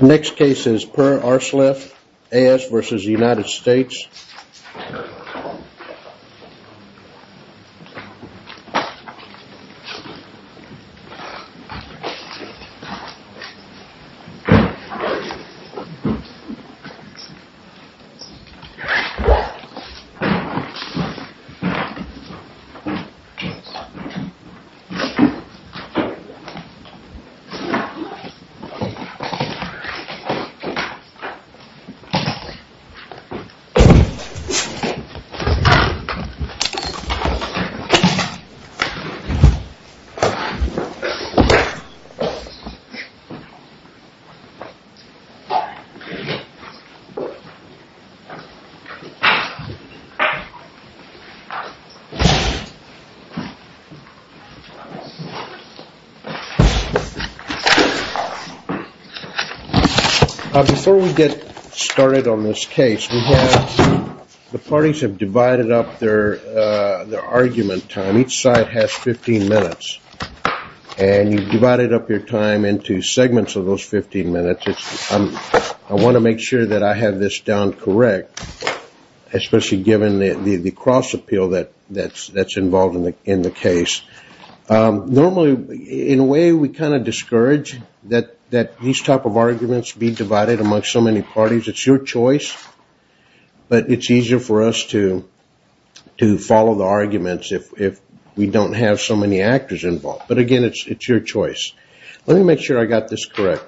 Next case is Perr-Arsleff, A.S. versus the United States. Next case is A.S. versus the United States. Before we get started on this case, the parties have divided up their argument time. Each side has 15 minutes, and you've divided up your time into segments of those 15 minutes. I want to make sure that I have this down correct, especially given the cross appeal that's involved in the case. Normally, in a way, we kind of discourage that these type of arguments be divided amongst so many parties. It's your choice, but it's easier for us to follow the arguments if we don't have so many actors involved. But, again, it's your choice. Let me make sure I got this correct.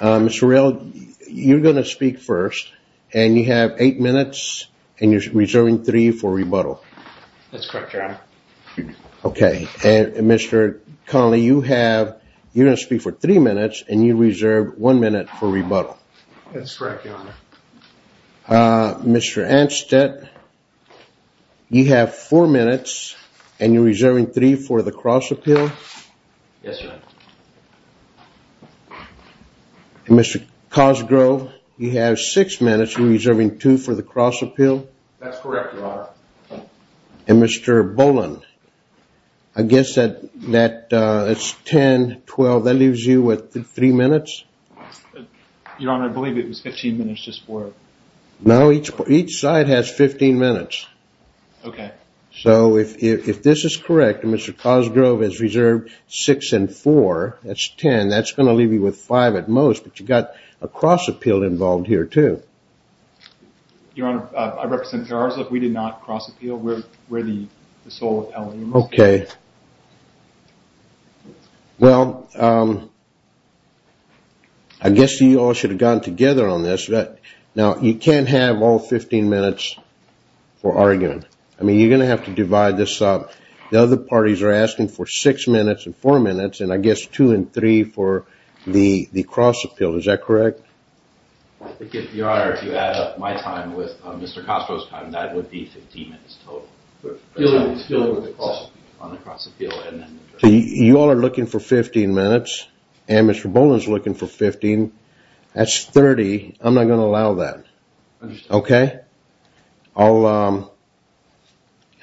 Mr. Rell, you're going to speak first, and you have eight minutes, and you're reserving three for rebuttal. That's correct, Your Honor. Okay. Mr. Connelly, you're going to speak for three minutes, and you reserve one minute for rebuttal. That's correct, Your Honor. Mr. Anstett, you have four minutes, and you're reserving three for the cross appeal. Yes, Your Honor. Mr. Cosgrove, you have six minutes. You're reserving two for the cross appeal. That's correct, Your Honor. And, Mr. Boland, I guess that's 10, 12. That leaves you with three minutes. Your Honor, I believe it was 15 minutes just for it. No, each side has 15 minutes. Okay. So, if this is correct, Mr. Cosgrove has reserved six and four. That's 10. That's going to leave you with five at most, but you've got a cross appeal involved here, too. Your Honor, I represent Peralta. We did not cross appeal. We're the sole appellant. Okay. Well, I guess you all should have gotten together on this. Now, you can't have all 15 minutes for arguing. I mean, you're going to have to divide this up. The other parties are asking for six minutes and four minutes, and I guess two and three for the cross appeal. Is that correct? I think, Your Honor, if you add up my time with Mr. Cosgrove's time, that would be 15 minutes total. You all are looking for 15 minutes, and Mr. Boland is looking for 15. That's 30. I'm not going to allow that. Okay.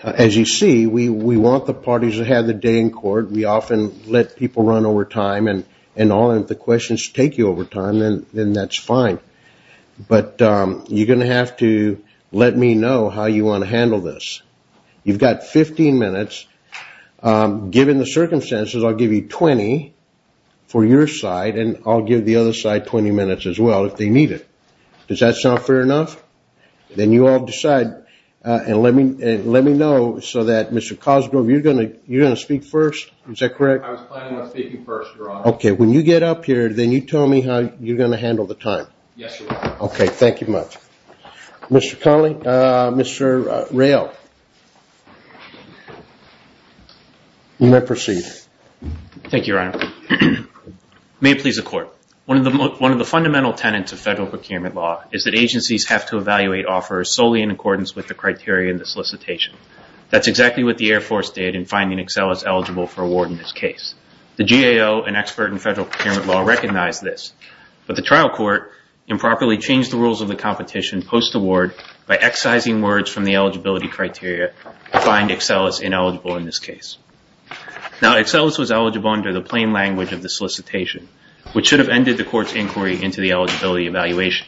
As you see, we want the parties to have the day in court. We often let people run over time, and if the questions take you over time, then that's fine. But you're going to have to let me know how you want to handle this. You've got 15 minutes. Given the circumstances, I'll give you 20 for your side, and I'll give the other side 20 minutes as well if they need it. Does that sound fair enough? Then you all decide, and let me know so that Mr. Cosgrove, you're going to speak first. Is that correct? I was planning on speaking first, Your Honor. Okay. When you get up here, then you tell me how you're going to handle the time. Yes, Your Honor. Okay. Thank you much. Mr. Connolly, Mr. Rayl, you may proceed. Thank you, Your Honor. May it please the Court. One of the fundamental tenets of federal procurement law is that agencies have to evaluate offers solely in accordance with the criteria in the solicitation. That's exactly what the Air Force did in finding Excellus eligible for award in this case. The GAO, an expert in federal procurement law, recognized this, but the trial court improperly changed the rules of the competition post-award by excising words from the eligibility criteria to find Excellus ineligible in this case. Now, Excellus was eligible under the plain language of the solicitation, which should have ended the court's inquiry into the eligibility evaluation.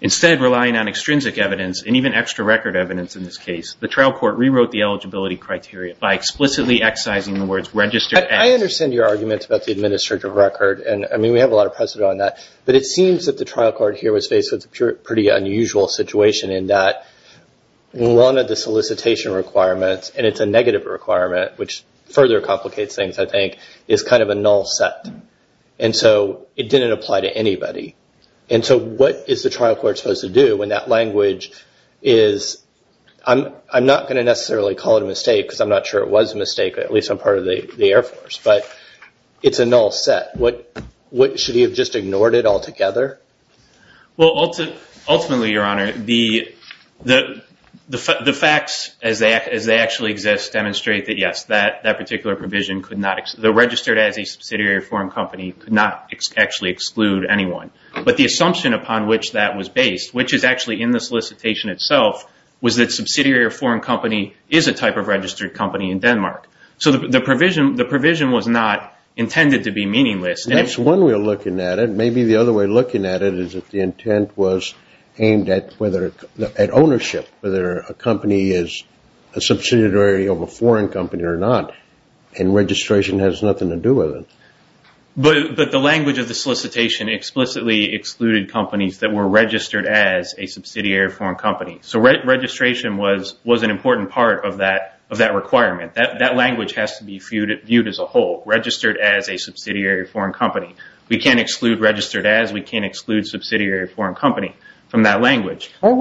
Instead, relying on extrinsic evidence, and even extra record evidence in this case, the trial court rewrote the eligibility criteria by explicitly excising the words registered as. I understand your argument about the administrative record, and I mean, we have a lot of precedent on that, but it seems that the trial court here was faced with a pretty unusual situation in that one of the solicitation requirements, and it's a negative requirement, which further complicates things, I think, is kind of a null set. And so it didn't apply to anybody. And so what is the trial court supposed to do when that language is, I'm not going to necessarily call it a mistake, because I'm not sure it was a mistake, but at least I'm part of the Air Force, but it's a null set. Should he have just ignored it altogether? Well, ultimately, Your Honor, the facts as they actually exist demonstrate that, yes, that particular provision could not, the registered as a subsidiary foreign company could not actually exclude anyone. But the assumption upon which that was based, which is actually in the solicitation itself, was that a subsidiary foreign company is a type of registered company in Denmark. So the provision was not intended to be meaningless. That's one way of looking at it. Maybe the other way of looking at it is that the intent was aimed at ownership, whether a company is a subsidiary of a foreign company or not, and registration has nothing to do with it. But the language of the solicitation explicitly excluded companies that were registered as a subsidiary foreign company. So registration was an important part of that requirement. That language has to be viewed as a whole, registered as a subsidiary foreign company. We can't exclude registered as. We can't exclude subsidiary foreign company from that language. Why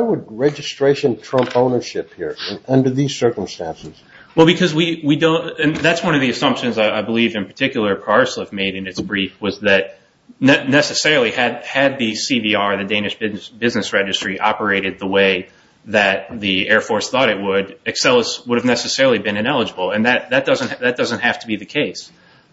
would registration trump ownership here under these circumstances? Well, because we don't, and that's one of the assumptions I believe in particular Parsliff made in its brief, was that necessarily had the CVR, the Danish business registry, operated the way that the Air Force thought it would, Excel would have necessarily been ineligible. And that doesn't have to be the case.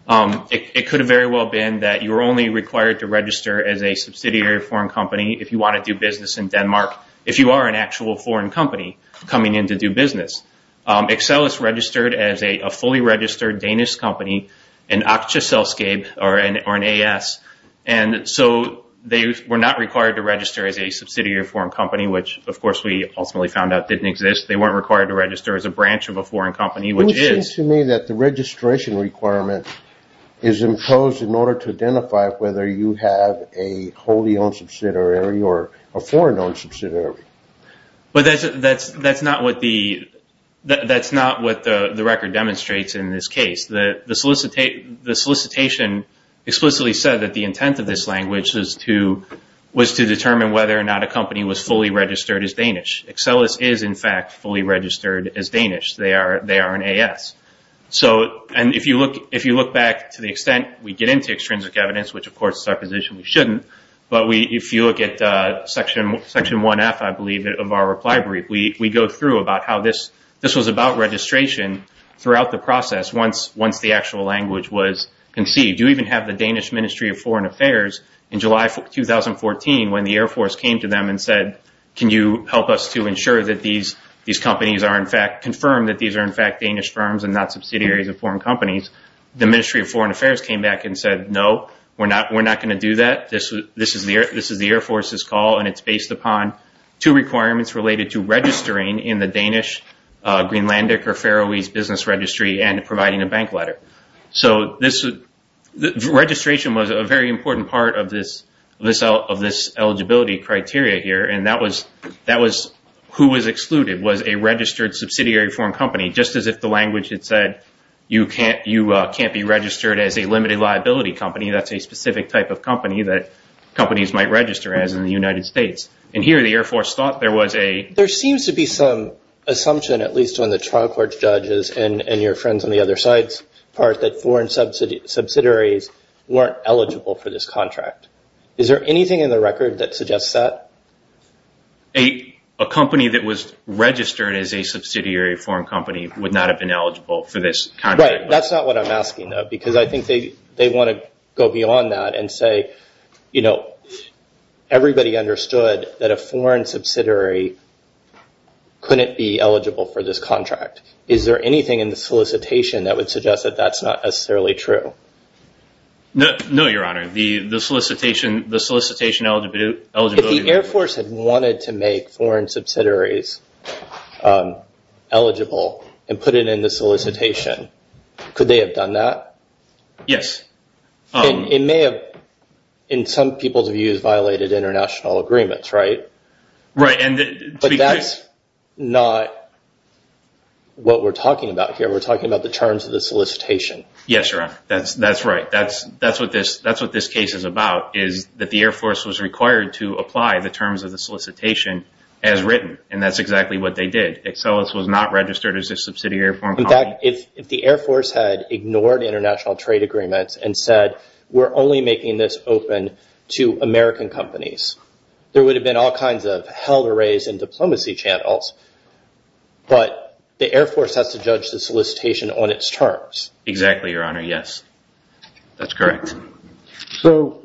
It could have very well been that you're only required to register as a subsidiary foreign company if you want to do business in Denmark, if you are an actual foreign company coming in to do business. Excel is registered as a fully registered Danish company, an Aksja Selskab, or an AS. And so they were not required to register as a subsidiary foreign company, which, of course, we ultimately found out didn't exist. They weren't required to register as a branch of a foreign company, which is. It seems to me that the registration requirement is imposed in order to identify whether you have a wholly owned subsidiary or a foreign owned subsidiary. But that's not what the record demonstrates in this case. The solicitation explicitly said that the intent of this language was to determine whether or not a company was fully registered as Danish. Excel is, in fact, fully registered as Danish. They are an AS. And if you look back to the extent we get into extrinsic evidence, which, of course, is our position, we shouldn't. But if you look at Section 1F, I believe, of our reply brief, we go through about how this was about registration throughout the process once the actual language was conceived. You even have the Danish Ministry of Foreign Affairs in July 2014 when the Air Force came to them and said, can you help us to ensure that these companies are, in fact, confirmed that these are, in fact, Danish firms and not subsidiaries of foreign companies. The Ministry of Foreign Affairs came back and said, no, we're not going to do that. This is the Air Force's call, and it's based upon two requirements related to registering in the Danish, Greenlandic, or Faroese business registry and providing a bank letter. So registration was a very important part of this eligibility criteria here, and that was who was excluded was a registered subsidiary foreign company, just as if the language had said you can't be registered as a limited liability company. That's a specific type of company that companies might register as in the United States. And here the Air Force thought there was a ---- trial court judges and your friends on the other side's part that foreign subsidiaries weren't eligible for this contract. Is there anything in the record that suggests that? A company that was registered as a subsidiary foreign company would not have been eligible for this contract. Right. That's not what I'm asking, though, because I think they want to go beyond that and say, you know, everybody understood that a foreign subsidiary couldn't be eligible for this contract. Is there anything in the solicitation that would suggest that that's not necessarily true? No, Your Honor. The solicitation eligibility ---- If the Air Force had wanted to make foreign subsidiaries eligible and put it in the solicitation, could they have done that? Yes. It may have, in some people's views, violated international agreements, right? Right. But that's not what we're talking about here. We're talking about the terms of the solicitation. Yes, Your Honor. That's right. That's what this case is about, is that the Air Force was required to apply the terms of the solicitation as written. And that's exactly what they did. Excellus was not registered as a subsidiary foreign company. In fact, if the Air Force had ignored international trade agreements and said, we're only making this open to American companies, there would have been all kinds of held arrays and diplomacy channels. But the Air Force has to judge the solicitation on its terms. Exactly, Your Honor. Yes. That's correct. So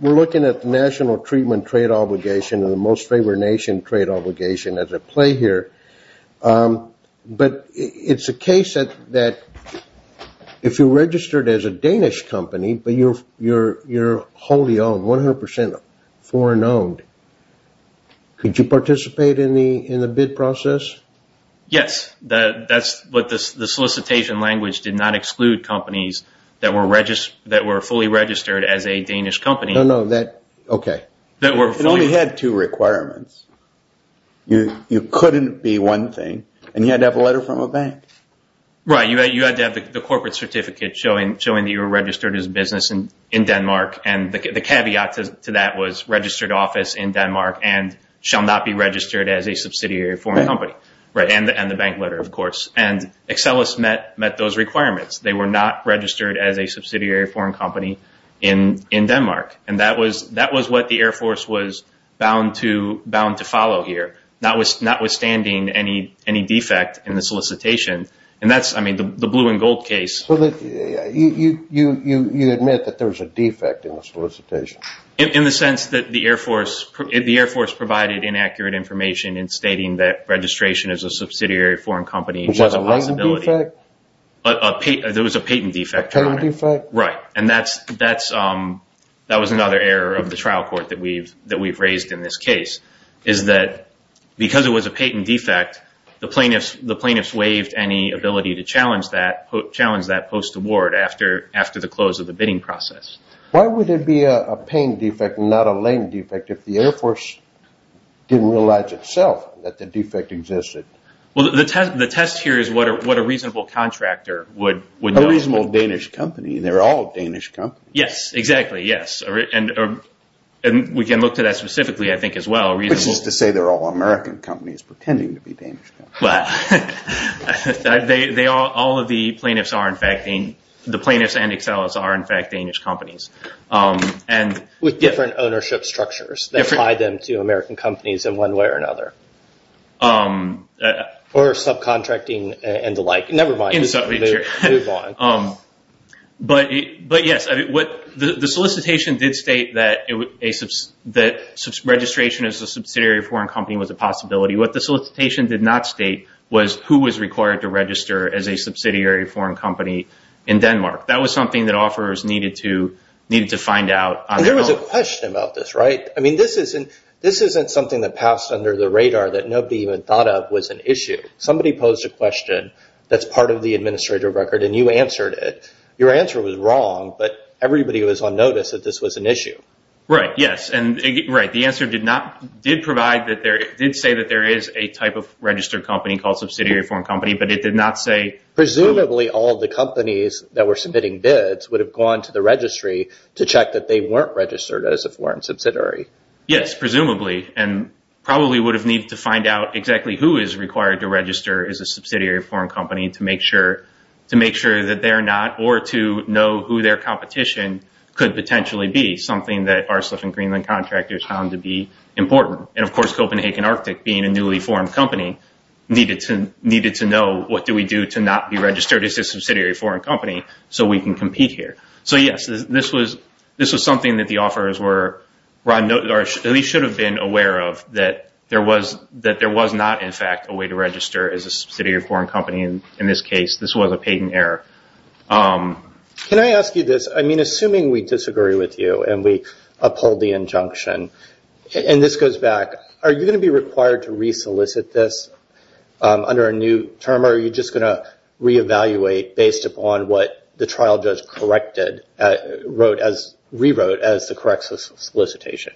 we're looking at the national treatment trade obligation and the most favored nation trade obligation as at play here. But it's a case that if you're registered as a Danish company but you're wholly owned, 100 percent foreign owned, could you participate in the bid process? Yes. That's what the solicitation language did not exclude companies that were fully registered as a Danish company. No, no. Okay. It only had two requirements. You couldn't be one thing. And you had to have a letter from a bank. Right. You had to have the corporate certificate showing that you were registered as a business in Denmark. And the caveat to that was registered office in Denmark and shall not be registered as a subsidiary foreign company. Right. And the bank letter, of course. And Excellus met those requirements. They were not registered as a subsidiary foreign company in Denmark. And that was what the Air Force was bound to follow here, notwithstanding any defect in the solicitation. And that's, I mean, the blue and gold case. You admit that there was a defect in the solicitation. In the sense that the Air Force provided inaccurate information in stating that registration as a subsidiary foreign company was a possibility. Was that a latent defect? There was a patent defect. A patent defect? Right. And that was another error of the trial court that we've raised in this case, is that because it was a patent defect, the plaintiffs waived any ability to challenge that post-award after the close of the bidding process. Why would there be a patent defect and not a latent defect if the Air Force didn't realize itself that the defect existed? Well, the test here is what a reasonable contractor would know. A reasonable Danish company? They're all Danish companies. Yes, exactly. Yes. And we can look to that specifically, I think, as well. Which is to say they're all American companies pretending to be Danish companies. Well, all of the plaintiffs and Excellus are, in fact, Danish companies. With different ownership structures that tie them to American companies in one way or another. Or subcontracting and the like. Never mind. But, yes, the solicitation did state that registration as a subsidiary foreign company was a possibility. What the solicitation did not state was who was required to register as a subsidiary foreign company in Denmark. That was something that offerors needed to find out. And there was a question about this, right? I mean, this isn't something that passed under the radar that nobody even thought of was an issue. Somebody posed a question that's part of the administrative record, and you answered it. Your answer was wrong, but everybody was on notice that this was an issue. Right. Yes. Right. The answer did say that there is a type of registered company called subsidiary foreign company, but it did not say who. Presumably all the companies that were submitting bids would have gone to the registry to check that they weren't registered as a foreign subsidiary. Yes, presumably. And probably would have needed to find out exactly who is required to register as a subsidiary foreign company to make sure that they're not or to know who their competition could potentially be, something that our Slip and Greenland contractors found to be important. And, of course, Copenhagen Arctic, being a newly formed company, needed to know what do we do to not be registered as a subsidiary foreign company so we can compete here. So, yes, this was something that the offerors at least should have been aware of, that there was not, in fact, a way to register as a subsidiary foreign company. In this case, this was a patent error. Can I ask you this? I mean, assuming we disagree with you and we uphold the injunction, and this goes back, are you going to be required to resolicit this under a new term? Or are you just going to reevaluate based upon what the trial judge rewrote as the correct solicitation?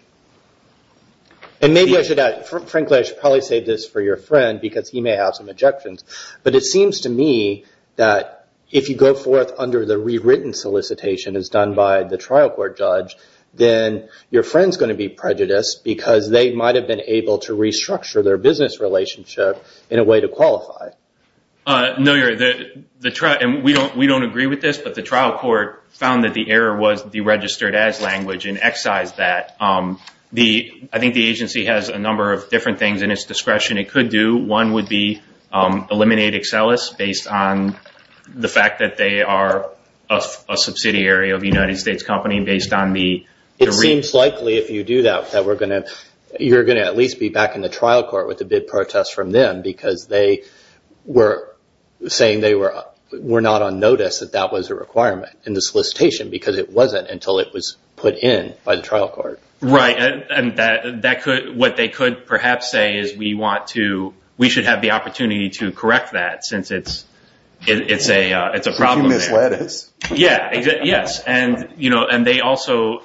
And maybe I should add, frankly, I should probably save this for your friend because he may have some objections. But it seems to me that if you go forth under the rewritten solicitation as done by the trial court judge, then your friend is going to be prejudiced because they might have been able to restructure their business relationship in a way to qualify. No, you're right. And we don't agree with this, but the trial court found that the error was deregistered as language and excised that. I think the agency has a number of different things in its discretion it could do. One would be eliminate Excellus based on the fact that they are a subsidiary of a United States company based on the… It seems likely if you do that that you're going to at least be back in the trial court with a bid protest from them because they were saying they were not on notice that that was a requirement in the solicitation because it wasn't until it was put in by the trial court. Right. And what they could perhaps say is we should have the opportunity to correct that since it's a problem there. Yes. And they also…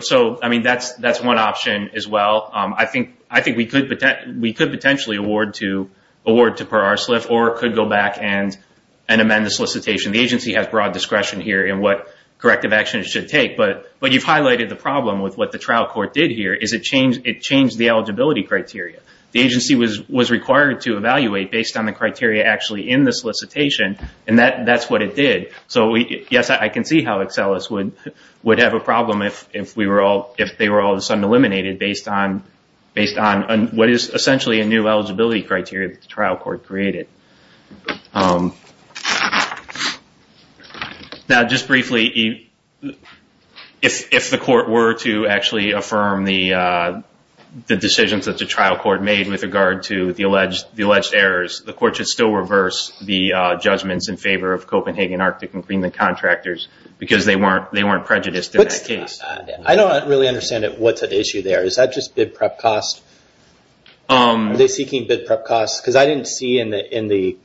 So, I mean, that's one option as well. I think we could potentially award to Per-Arsliff or could go back and amend the solicitation. The agency has broad discretion here in what corrective action it should take. But you've highlighted the problem with what the trial court did here is it changed the eligibility criteria. The agency was required to evaluate based on the criteria actually in the solicitation, and that's what it did. So, yes, I can see how Excellus would have a problem if they were all of a sudden eliminated based on what is essentially a new eligibility criteria that the trial court created. Now, just briefly, if the court were to actually affirm the decisions that the trial court made with regard to the alleged errors, the court should still reverse the judgments in favor of Copenhagen Arctic and Greenland contractors because they weren't prejudiced in that case. I don't really understand what's at issue there. Is that just bid prep cost? Are they seeking bid prep costs? Because I didn't see in the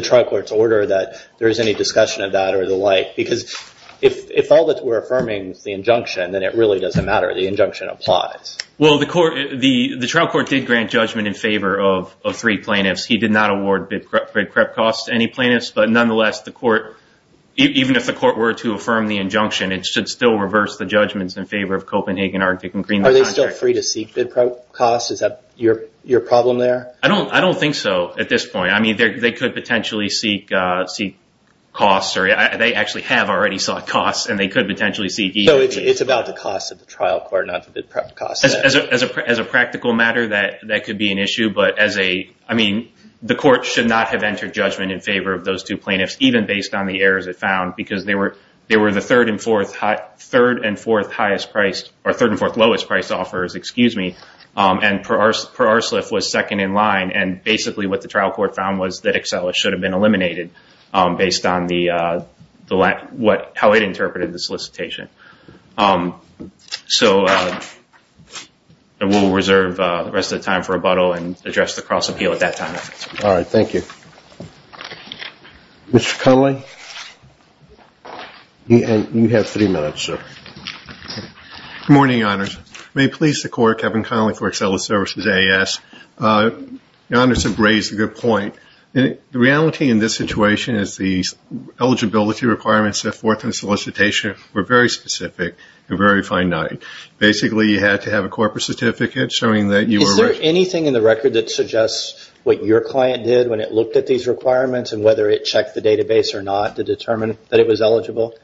trial court's order that there is any discussion of that or the like. Because if all that we're affirming is the injunction, then it really doesn't matter. The injunction applies. Well, the trial court did grant judgment in favor of three plaintiffs. He did not award bid prep costs to any plaintiffs. But nonetheless, even if the court were to affirm the injunction, it should still reverse the judgments in favor of Copenhagen Arctic and Greenland contractors. Are they still free to seek bid prep costs? Is that your problem there? I don't think so at this point. I mean, they could potentially seek costs, or they actually have already sought costs, and they could potentially seek either. So it's about the costs of the trial court, not the bid prep costs? As a practical matter, that could be an issue. But, I mean, the court should not have entered judgment in favor of those two plaintiffs, even based on the errors it found, because they were the third and fourth lowest price offers, and Per Arslev was second in line, and basically what the trial court found was that Excella should have been eliminated, based on how it interpreted the solicitation. So we'll reserve the rest of the time for rebuttal and address the cross appeal at that time. All right. Thank you. Mr. Cudley, you have three minutes, sir. Good morning, Your Honors. May it please the Court, Kevin Connolly for Excella Services, AAS. Your Honors have raised a good point. The reality in this situation is the eligibility requirements, the fourth and solicitation, were very specific and very finite. Basically, you had to have a corporate certificate showing that you were- Is there anything in the record that suggests what your client did when it looked at these requirements and whether it checked the database or not to determine that it was eligible?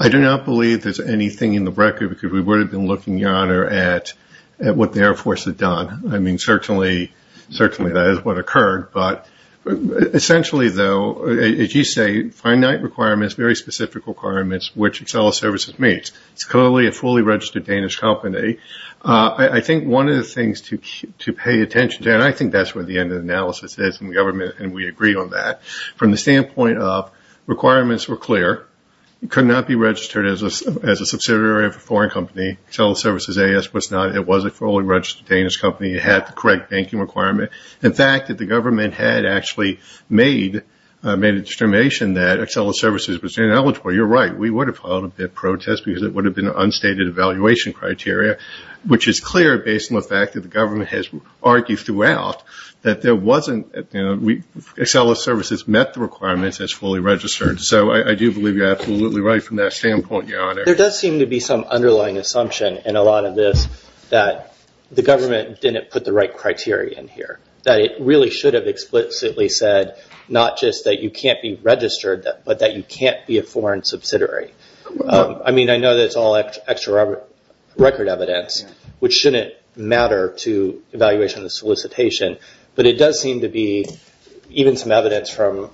I do not believe there's anything in the record, because we would have been looking, Your Honor, at what the Air Force had done. I mean, certainly that is what occurred. But essentially, though, as you say, finite requirements, very specific requirements, which Excella Services meets. It's clearly a fully registered Danish company. I think one of the things to pay attention to, and I think that's where the end of the analysis is in government, and we agree on that. From the standpoint of requirements were clear. It could not be registered as a subsidiary of a foreign company. Excella Services, AAS, was not. It was a fully registered Danish company. It had the correct banking requirement. In fact, the government had actually made a determination that Excella Services was ineligible. You're right. We would have filed a bid protest because it would have been an unstated evaluation criteria, which is clear based on the fact that the government has argued throughout that there wasn't- that the requirement is fully registered. So I do believe you're absolutely right from that standpoint, Your Honor. There does seem to be some underlying assumption in a lot of this that the government didn't put the right criteria in here, that it really should have explicitly said not just that you can't be registered, but that you can't be a foreign subsidiary. I mean, I know that's all extra record evidence, which shouldn't matter to evaluation of the solicitation, but it does seem to be even some evidence from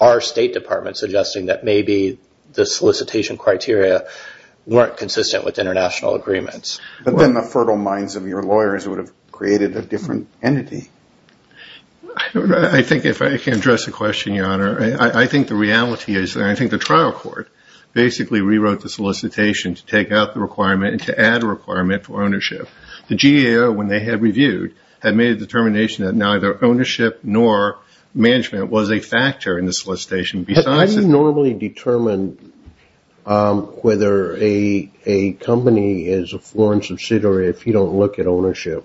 our State Department suggesting that maybe the solicitation criteria weren't consistent with international agreements. But then the fertile minds of your lawyers would have created a different entity. I don't know. I think if I can address the question, Your Honor, I think the reality is that I think the trial court basically rewrote the solicitation to take out the requirement and to add a requirement for ownership. The GAO, when they had reviewed, had made a determination that neither ownership nor management was a factor in the solicitation. I didn't normally determine whether a company is a foreign subsidiary if you don't look at ownership.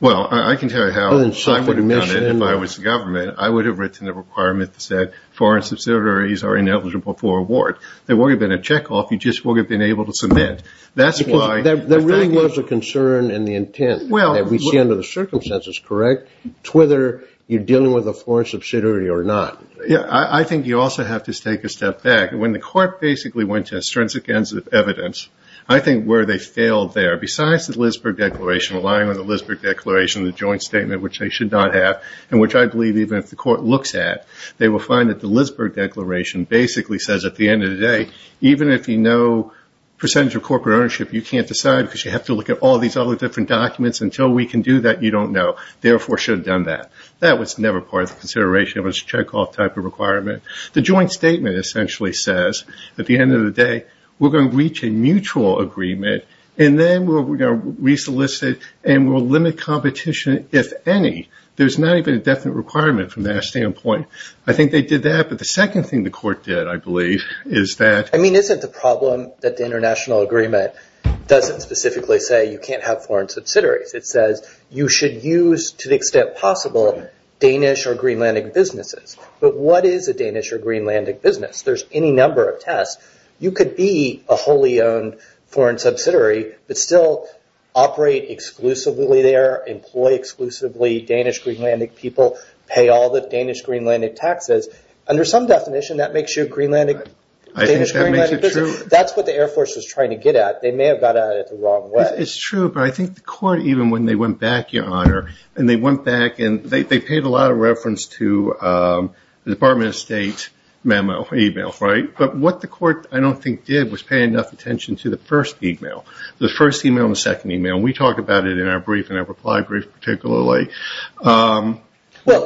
Well, I can tell you how I would have done it if I was the government. I would have written a requirement that said foreign subsidiaries are ineligible for award. There wouldn't have been a checkoff. You just wouldn't have been able to submit. There really was a concern in the intent that we see under the circumstances, correct, to whether you're dealing with a foreign subsidiary or not. I think you also have to take a step back. When the court basically went to a stringent evidence, I think where they failed there, besides the Lisberg Declaration, relying on the Lisberg Declaration, the joint statement which they should not have and which I believe even if the court looks at, they will find that the Lisberg Declaration basically says at the end of the day, even if you know percentage of corporate ownership, you can't decide because you have to look at all these other different documents. Until we can do that, you don't know. Therefore, should have done that. That was never part of the consideration. It was a checkoff type of requirement. The joint statement essentially says at the end of the day, we're going to reach a mutual agreement and then we're going to re-solicit and we'll limit competition if any. There's not even a definite requirement from that standpoint. I think they did that. The second thing the court did, I believe, is that- I mean, isn't the problem that the international agreement doesn't specifically say you can't have foreign subsidiaries. It says you should use, to the extent possible, Danish or Greenlandic businesses. But what is a Danish or Greenlandic business? There's any number of tests. You could be a wholly owned foreign subsidiary but still operate exclusively there, employ exclusively Danish-Greenlandic people, pay all the Danish-Greenlandic taxes. Under some definition, that makes you a Danish-Greenlandic business. I think that makes it true. That's what the Air Force was trying to get at. They may have got at it the wrong way. It's true, but I think the court, even when they went back, Your Honor, and they went back and they paid a lot of reference to the Department of State memo, e-mail. But what the court, I don't think, did was pay enough attention to the first e-mail, the first e-mail and the second e-mail. We talked about it in our brief and our reply brief particularly. Well,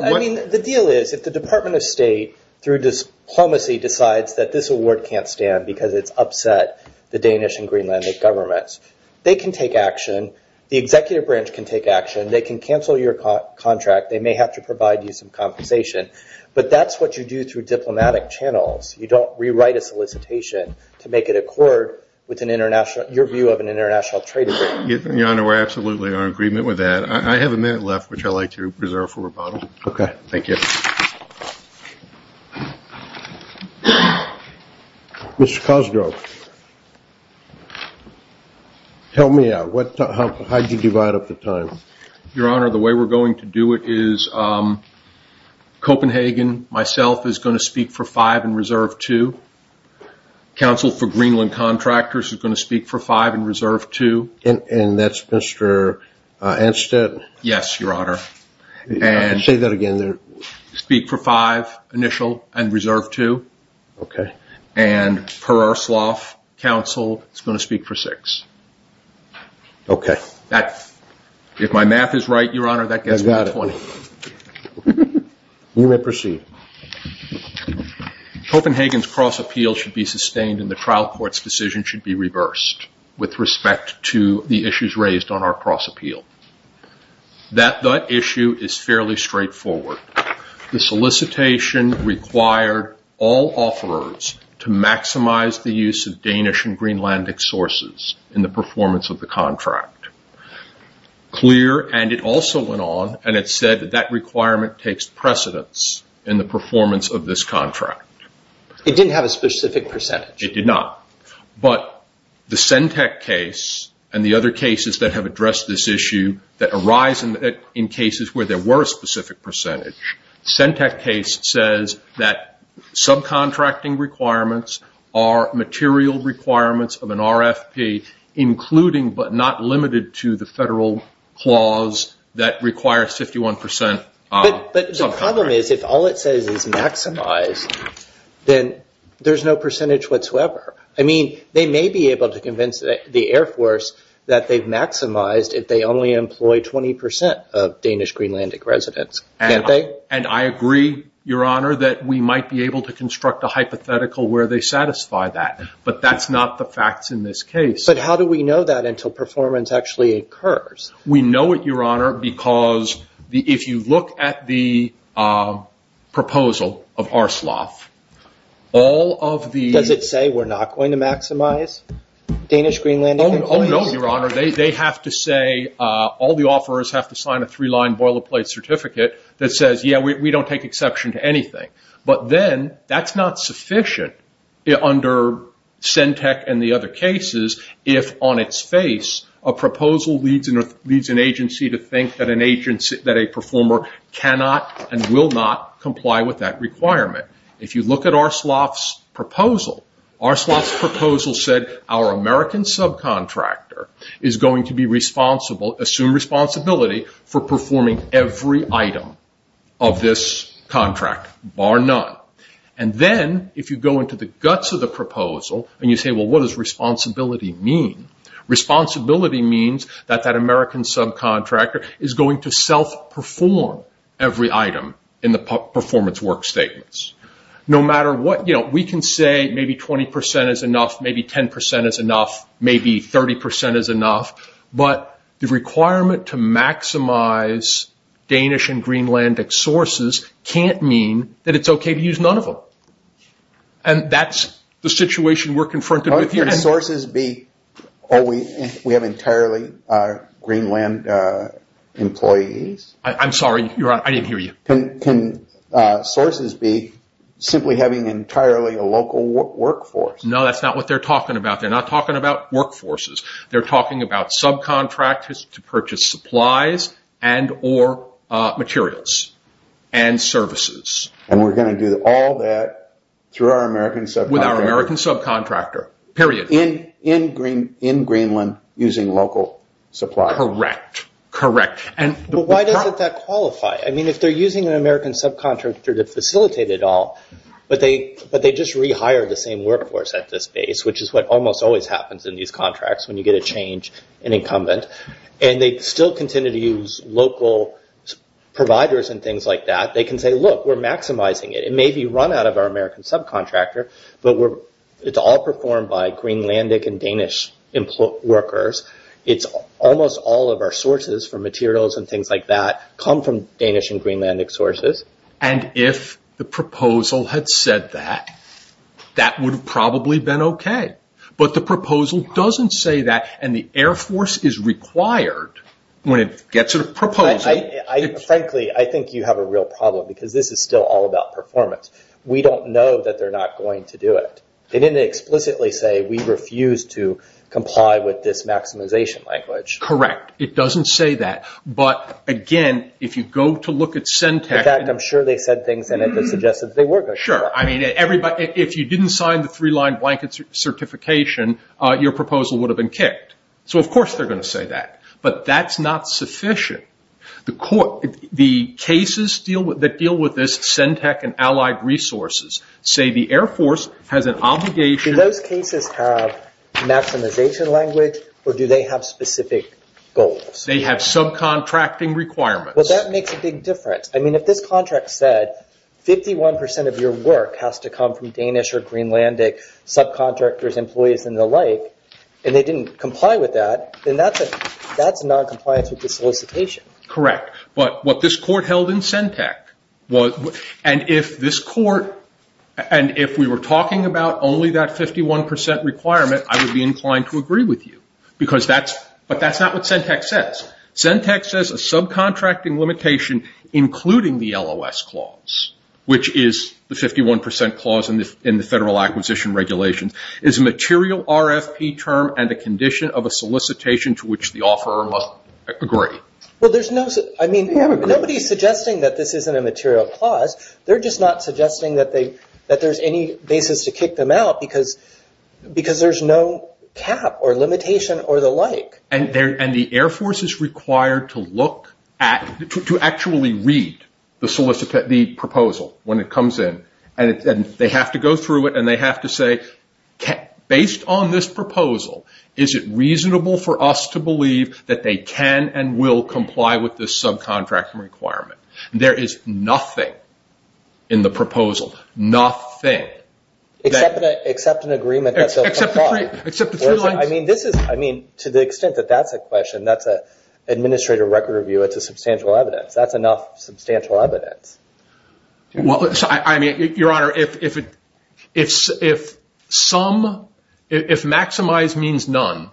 I mean, the deal is if the Department of State, through diplomacy, decides that this award can't stand because it's upset the Danish and Greenlandic governments, they can take action. The executive branch can take action. They can cancel your contract. They may have to provide you some compensation. But that's what you do through diplomatic channels. You don't rewrite a solicitation to make it accord with your view of an international trade agreement. Your Honor, we're absolutely in agreement with that. I have a minute left, which I'd like to reserve for rebuttal. Okay. Thank you. Mr. Cosgrove, tell me how you divide up the time. Your Honor, the way we're going to do it is Copenhagen, myself, is going to speak for five and reserve two. Counsel for Greenland contractors is going to speak for five and reserve two. And that's Mr. Anstead? Yes, Your Honor. Say that again there. Speak for five, initial, and reserve two. Okay. And Per-Arslaff, counsel, is going to speak for six. Okay. If my math is right, Your Honor, that gives me 20. I got it. You may proceed. Copenhagen's cross-appeal should be sustained and the trial court's decision should be reversed with respect to the issues raised on our cross-appeal. That issue is fairly straightforward. The solicitation required all offerers to maximize the use of Danish and Greenlandic sources in the performance of the contract. Clear, and it also went on and it said that that requirement takes precedence in the performance of this contract. It didn't have a specific percentage. It did not. But the Sentec case and the other cases that have addressed this issue that arise in cases where there were a specific percentage, Sentec case says that subcontracting requirements are material requirements of an RFP, including but not limited to the federal clause that requires 51% subcontracting. The problem is if all it says is maximize, then there's no percentage whatsoever. I mean, they may be able to convince the Air Force that they've maximized if they only employ 20% of Danish Greenlandic residents. Can't they? And I agree, Your Honor, that we might be able to construct a hypothetical where they satisfy that, but that's not the facts in this case. But how do we know that until performance actually occurs? We know it, Your Honor, because if you look at the proposal of RSLOF, all of the- Does it say we're not going to maximize Danish Greenlandic employees? Oh, no, Your Honor. They have to say, all the offerors have to sign a three-line boilerplate certificate that says, yeah, we don't take exception to anything. But then that's not sufficient under SENTEC and the other cases if on its face, a proposal leads an agency to think that a performer cannot and will not comply with that requirement. If you look at RSLOF's proposal, RSLOF's proposal said our American subcontractor is going to assume responsibility for performing every item of this contract, bar none. And then if you go into the guts of the proposal and you say, well, what does responsibility mean? Responsibility means that that American subcontractor is going to self-perform every item in the performance work statements. We can say maybe 20% is enough, maybe 10% is enough, maybe 30% is enough, but the requirement to maximize Danish and Greenlandic sources can't mean that it's okay to use none of them. And that's the situation we're confronted with here. Can sources be, oh, we have entirely Greenland employees? I'm sorry, Your Honor, I didn't hear you. Can sources be simply having entirely a local workforce? No, that's not what they're talking about. They're not talking about workforces. They're talking about subcontractors to purchase supplies and or materials and services. And we're going to do all that through our American subcontractor? With our American subcontractor, period. In Greenland using local supplies? Correct, correct. But why doesn't that qualify? I mean, if they're using an American subcontractor to facilitate it all, but they just rehire the same workforce at this base, which is what almost always happens in these contracts when you get a change in incumbent, and they still continue to use local providers and things like that, they can say, look, we're maximizing it. It may be run out of our American subcontractor, but it's all performed by Greenlandic and Danish workers. Almost all of our sources for materials and things like that come from Danish and Greenlandic sources. And if the proposal had said that, that would have probably been okay. But the proposal doesn't say that, and the Air Force is required, when it gets a proposal... Frankly, I think you have a real problem, because this is still all about performance. We don't know that they're not going to do it. They didn't explicitly say, we refuse to comply with this maximization language. Correct. It doesn't say that. But, again, if you go to look at Centech... In fact, I'm sure they said things in it that suggested they were going to comply. Sure. I mean, if you didn't sign the three-line blanket certification, your proposal would have been kicked. So, of course, they're going to say that. But that's not sufficient. The cases that deal with this, Centech and Allied Resources, say the Air Force has an obligation... Do those cases have maximization language, or do they have specific goals? They have subcontracting requirements. Well, that makes a big difference. I mean, if this contract said, 51% of your work has to come from Danish or Greenlandic subcontractors, employees, and the like, and they didn't comply with that, then that's noncompliance with the solicitation. Correct. But what this court held in Centech was... And if this court... And if we were talking about only that 51% requirement, I would be inclined to agree with you. But that's not what Centech says. Centech says a subcontracting limitation, including the LOS clause, which is the 51% clause in the Federal Acquisition Regulations, is a material RFP term and a condition of a solicitation to which the offeror must agree. Well, there's no... I mean, nobody's suggesting that this isn't a material clause. They're just not suggesting that there's any basis to kick them out because there's no cap or limitation or the like. And the Air Force is required to actually read the proposal when it comes in. And they have to go through it, and they have to say, based on this proposal, is it reasonable for us to believe that they can and will comply with this subcontracting requirement? There is nothing in the proposal, nothing. Except an agreement that they'll comply. Except the three lines. I mean, to the extent that that's a question, that's an administrative record review. It's a substantial evidence. That's enough substantial evidence. Well, I mean, Your Honor, if maximize means none,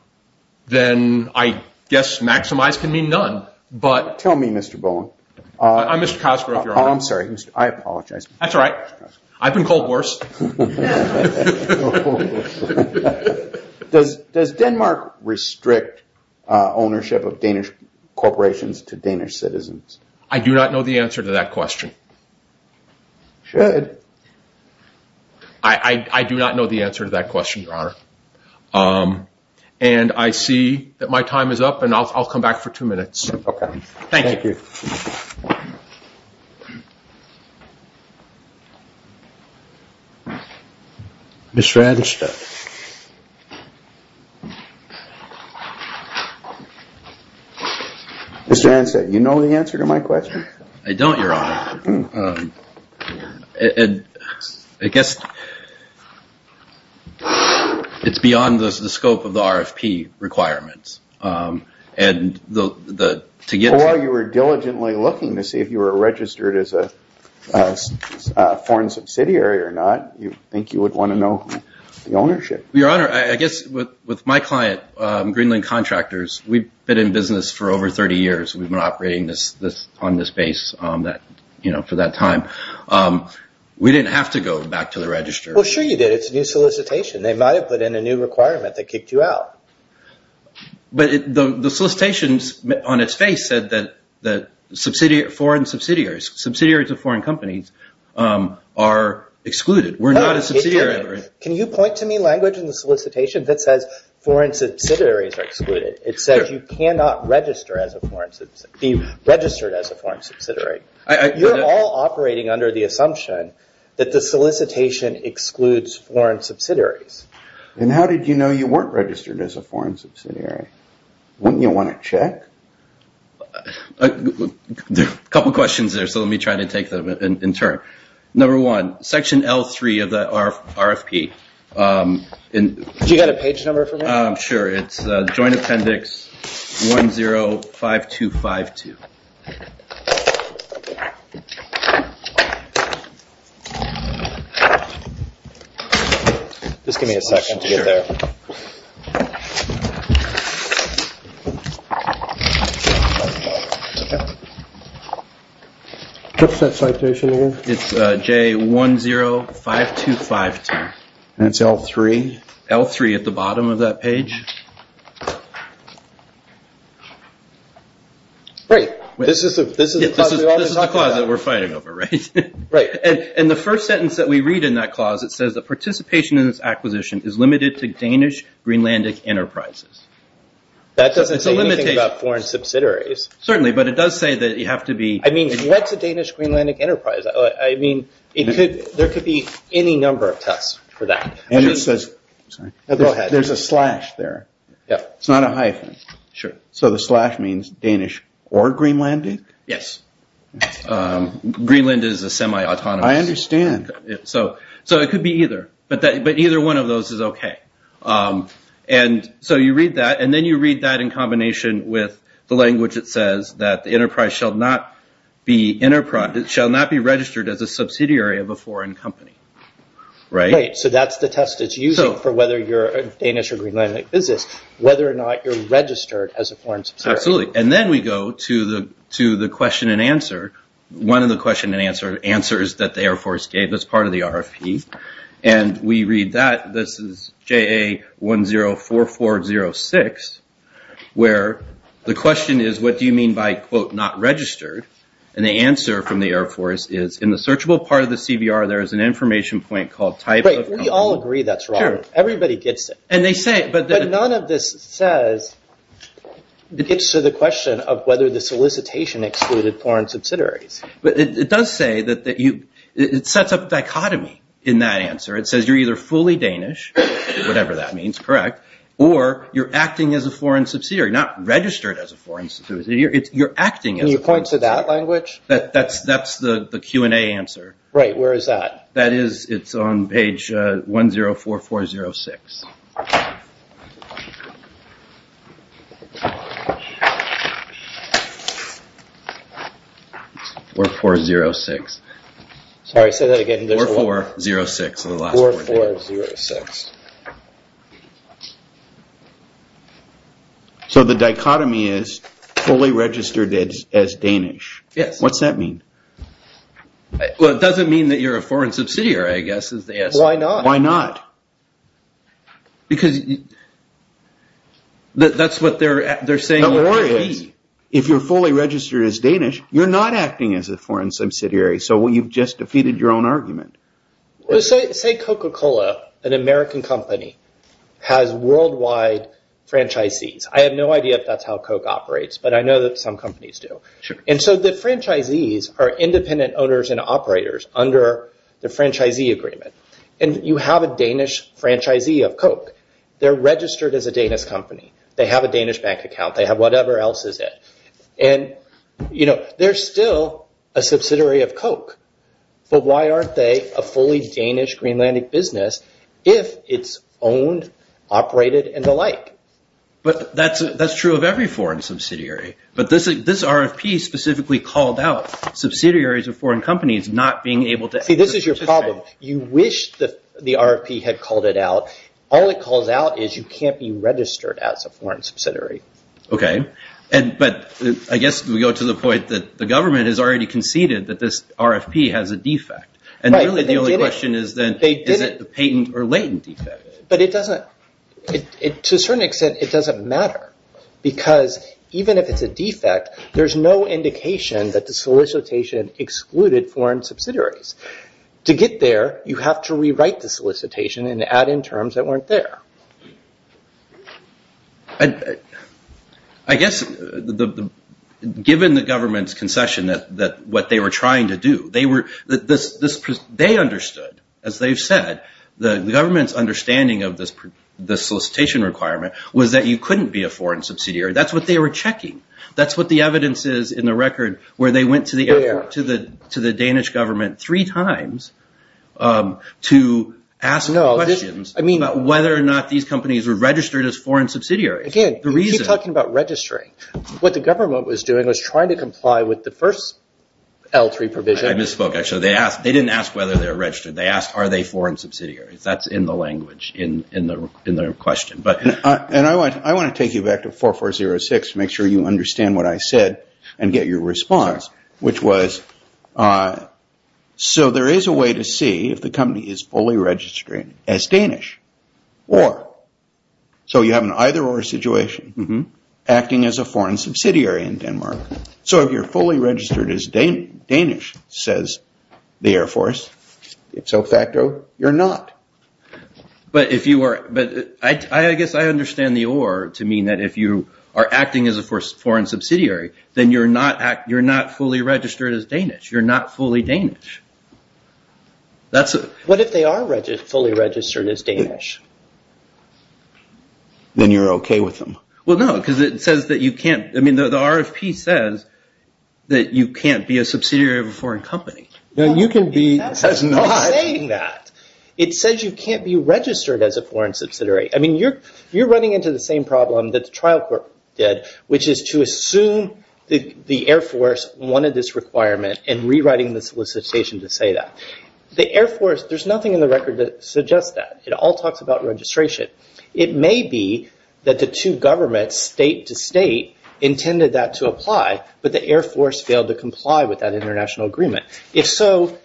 then I guess maximize can mean none. Tell me, Mr. Bowen. I'm Mr. Cosgrove, Your Honor. I'm sorry. I apologize. That's all right. I've been called worse. Does Denmark restrict ownership of Danish corporations to Danish citizens? I do not know the answer to that question. You should. I do not know the answer to that question, Your Honor. And I see that my time is up, and I'll come back for two minutes. Okay. Thank you. Thank you. Mr. Anstett. Mr. Anstett, you know the answer to my question? I don't, Your Honor. I guess it's beyond the scope of the RFP requirements. While you were diligently looking to see if you were registered as a foreign subsidiary or not, you think you would want to know the ownership. Your Honor, I guess with my client, Greenland Contractors, we've been in business for over 30 years. We've been operating on this base for that time. We didn't have to go back to the register. Well, sure you did. It's a new solicitation. They might have put in a new requirement that kicked you out. But the solicitation on its face said that foreign subsidiaries, subsidiaries of foreign companies, are excluded. We're not a subsidiary. Can you point to me language in the solicitation that says foreign subsidiaries are excluded? It says you cannot be registered as a foreign subsidiary. You're all operating under the assumption that the solicitation excludes foreign subsidiaries. And how did you know you weren't registered as a foreign subsidiary? Wouldn't you want to check? There are a couple of questions there, so let me try to take them in turn. Number one, Section L3 of the RFP. Do you have a page number for me? Sure. It's Joint Appendix 105252. Just give me a second to get there. What's that citation again? It's J105252. And it's L3? L3 at the bottom of that page. Great. This is the clause that we're fighting over, right? Right. And the first sentence that we read in that clause, it says that participation in this acquisition is limited to Danish Greenlandic Enterprises. That doesn't say anything about foreign subsidiaries. Certainly, but it does say that you have to be... I mean, what's a Danish Greenlandic Enterprise? I mean, there could be any number of tests for that. There's a slash there. It's not a hyphen. So the slash means Danish or Greenlandic? Yes. Greenland is a semi-autonomous. I understand. So it could be either, but either one of those is okay. And so you read that, and then you read that in combination with the language that says that the enterprise shall not be registered as a subsidiary of a foreign company. Right. So that's the test it's using for whether you're a Danish or Greenlandic business, whether or not you're registered as a foreign subsidiary. Absolutely. And then we go to the question and answer. One of the question and answer answers that the Air Force gave as part of the RFP, and we read that. This is JA104406, where the question is, what do you mean by, quote, not registered? And the answer from the Air Force is, in the searchable part of the CBR, there is an information point called type of company. Right. We all agree that's wrong. Sure. Everybody gets it. But none of this says, gets to the question of whether the solicitation excluded foreign subsidiaries. But it does say that you, it sets up dichotomy in that answer. It says you're either fully Danish, whatever that means, correct, or you're acting as a foreign subsidiary, not registered as a foreign subsidiary. You're acting as a foreign subsidiary. Can you point to that language? That's the Q&A answer. Right. Where is that? That is, it's on page 104406. 4406. Sorry, say that again. 4406. 4406. So the dichotomy is fully registered as Danish. Yes. What's that mean? Well, it doesn't mean that you're a foreign subsidiary, I guess, is the answer. Why not? Why not? Because that's what they're saying. If you're fully registered as Danish, you're not acting as a foreign subsidiary. So you've just defeated your own argument. Say Coca-Cola, an American company, has worldwide franchisees. I have no idea if that's how Coke operates, but I know that some companies do. And so the franchisees are independent owners and operators under the franchisee agreement. And you have a Danish franchisee of Coke. They're registered as a Danish company. They have a Danish bank account. They have whatever else is it. And they're still a subsidiary of Coke. But why aren't they a fully Danish Greenlandic business if it's owned, operated, and the like? But that's true of every foreign subsidiary. But this RFP specifically called out subsidiaries of foreign companies not being able to… See, this is your problem. You wish the RFP had called it out. All it calls out is you can't be registered as a foreign subsidiary. But I guess we go to the point that the government has already conceded that this RFP has a defect. And really the only question is then is it a patent or latent defect? But to a certain extent, it doesn't matter. Because even if it's a defect, there's no indication that the solicitation excluded foreign subsidiaries. To get there, you have to rewrite the solicitation and add in terms that weren't there. I guess given the government's concession that what they were trying to do, they understood, as they've said, the government's understanding of the solicitation requirement was that you couldn't be a foreign subsidiary. That's what they were checking. That's what the evidence is in the record where they went to the Danish government three times to ask questions about whether or not these companies were registered as foreign subsidiaries. Again, you keep talking about registering. What the government was doing was trying to comply with the first L3 provision. I misspoke, actually. They didn't ask whether they were registered. They asked are they foreign subsidiaries. That's in the language in their question. And I want to take you back to 4406 to make sure you understand what I said and get your response, which was, so there is a way to see if the company is fully registered as Danish or, so you have an either or situation, acting as a foreign subsidiary in Denmark. So if you're fully registered as Danish, says the Air Force, it's de facto you're not. But I guess I understand the or to mean that if you are acting as a foreign subsidiary, then you're not fully registered as Danish. You're not fully Danish. What if they are fully registered as Danish? Then you're okay with them. Well, no, because it says that you can't. I mean, the RFP says that you can't be a subsidiary of a foreign company. You can be. It's not saying that. It says you can't be registered as a foreign subsidiary. I mean, you're running into the same problem that the trial court did, which is to assume the Air Force wanted this requirement and rewriting the solicitation to say that. The Air Force, there's nothing in the record that suggests that. It all talks about registration. It may be that the two governments, state to state, intended that to apply, but the Air Force failed to comply with that international agreement. If so,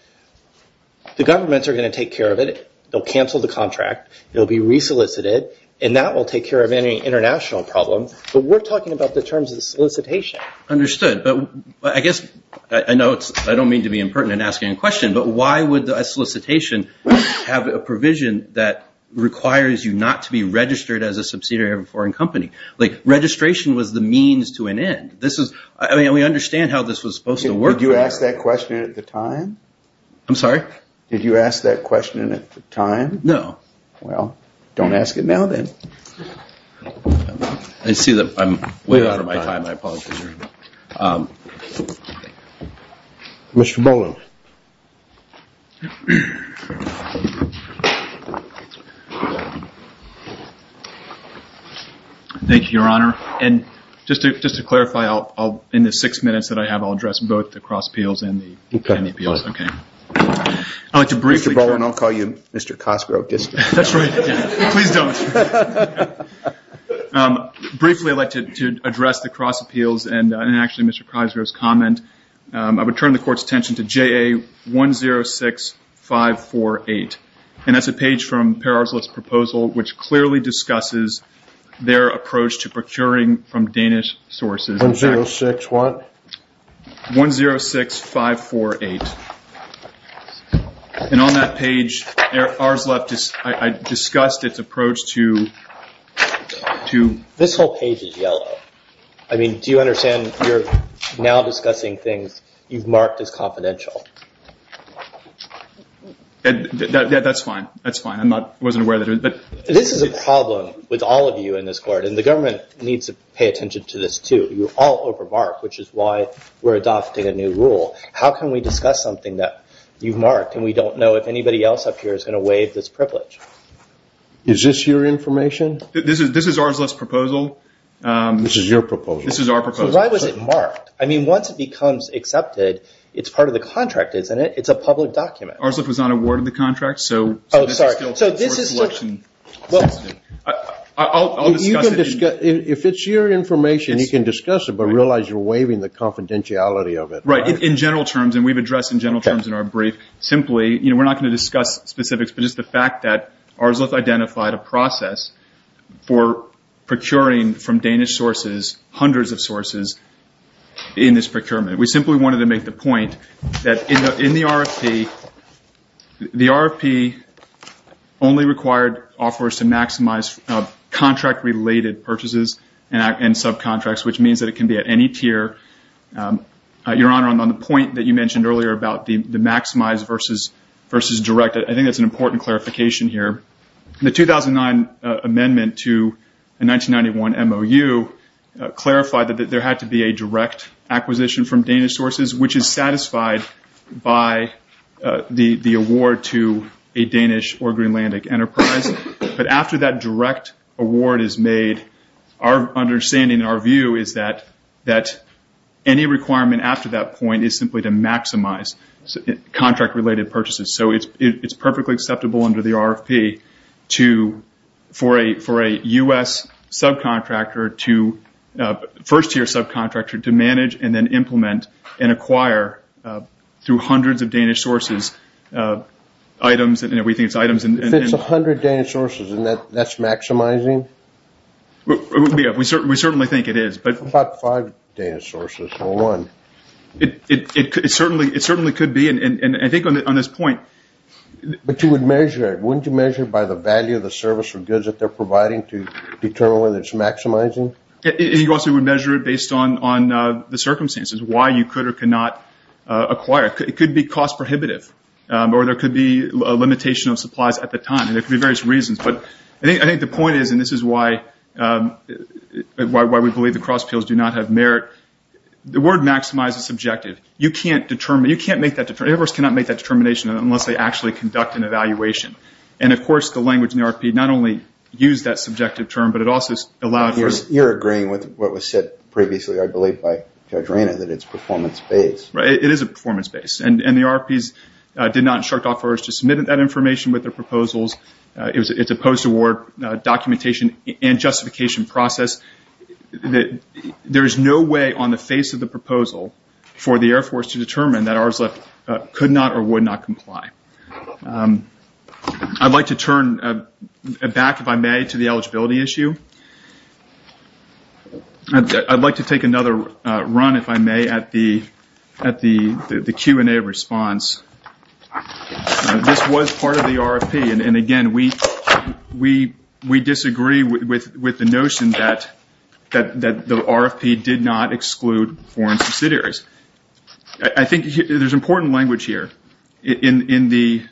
the governments are going to take care of it. They'll cancel the contract. It will be resolicited, and that will take care of any international problem. But we're talking about the terms of the solicitation. Understood. But I guess I know I don't mean to be impertinent in asking a question, but why would a solicitation have a provision that requires you not to be registered as a subsidiary of a foreign company? Like, registration was the means to an end. I mean, we understand how this was supposed to work. Did you ask that question at the time? I'm sorry? Did you ask that question at the time? No. Well, don't ask it now then. I see that I'm way out of my time, I apologize. Mr. Boland. Thank you, Your Honor. And just to clarify, in the six minutes that I have, I'll address both the cross appeals and the pen appeals. Okay. Mr. Boland, I'll call you Mr. Cosgrove. That's right. Please don't. Briefly, I'd like to address the cross appeals and actually Mr. Cosgrove's comment. I would turn the court's attention to JA106548, and that's a page from Parrar's list proposal which clearly discusses their approach to procuring from Danish sources. 106 what? 106548. And on that page, ours left, I discussed its approach to- This whole page is yellow. I mean, do you understand you're now discussing things you've marked as confidential? That's fine. That's fine. I wasn't aware that it was, but- This is a problem with all of you in this court, and the government needs to pay attention to this too. You all over mark, which is why we're adopting a new rule. How can we discuss something that you've marked, and we don't know if anybody else up here is going to waive this privilege? Is this your information? This is ours left's proposal. This is your proposal. This is our proposal. So why was it marked? I mean, once it becomes accepted, it's part of the contract, isn't it? It's a public document. Ours left was not awarded the contract, so- Oh, sorry. So this is- I'll discuss it. If it's your information, you can discuss it, but realize you're waiving the confidentiality of it. Right. In general terms, and we've addressed in general terms in our brief, simply, we're not going to discuss specifics, but just the fact that ours left identified a process for procuring from Danish sources hundreds of sources in this procurement. We simply wanted to make the point that in the RFP, the RFP only required offers to maximize contract-related purchases and subcontracts, which means that it can be at any tier. Your Honor, on the point that you mentioned earlier about the maximize versus direct, I think that's an important clarification here. The 2009 amendment to the 1991 MOU clarified that there had to be a direct acquisition from Danish sources, which is satisfied by the award to a Danish or Greenlandic enterprise. But after that direct award is made, our understanding and our view is that any requirement after that point is simply to maximize contract-related purchases. So it's perfectly acceptable under the RFP for a U.S. subcontractor to- through hundreds of Danish sources, items and everything. If it's a hundred Danish sources, isn't that maximizing? We certainly think it is. What about five Danish sources or one? It certainly could be, and I think on this point- But you would measure it. Wouldn't you measure it by the value of the service or goods that they're providing to determine whether it's maximizing? You also would measure it based on the circumstances, why you could or could not acquire. It could be cost prohibitive, or there could be a limitation of supplies at the time, and there could be various reasons. But I think the point is, and this is why we believe the cross appeals do not have merit, the word maximize is subjective. You can't make that determination unless they actually conduct an evaluation. And, of course, the language in the RFP not only used that subjective term, but it also allowed for- You're agreeing with what was said previously, I believe, by Judge Rayner, that it's performance-based. It is a performance-based. And the RFPs did not instruct offerors to submit that information with their proposals. It's a post-award documentation and justification process. There is no way on the face of the proposal for the Air Force to determine that ARSLEF could not or would not comply. I'd like to turn back, if I may, to the eligibility issue. I'd like to take another run, if I may, at the Q&A response. This was part of the RFP. And, again, we disagree with the notion that the RFP did not exclude foreign subsidiaries. I think there's important language here in the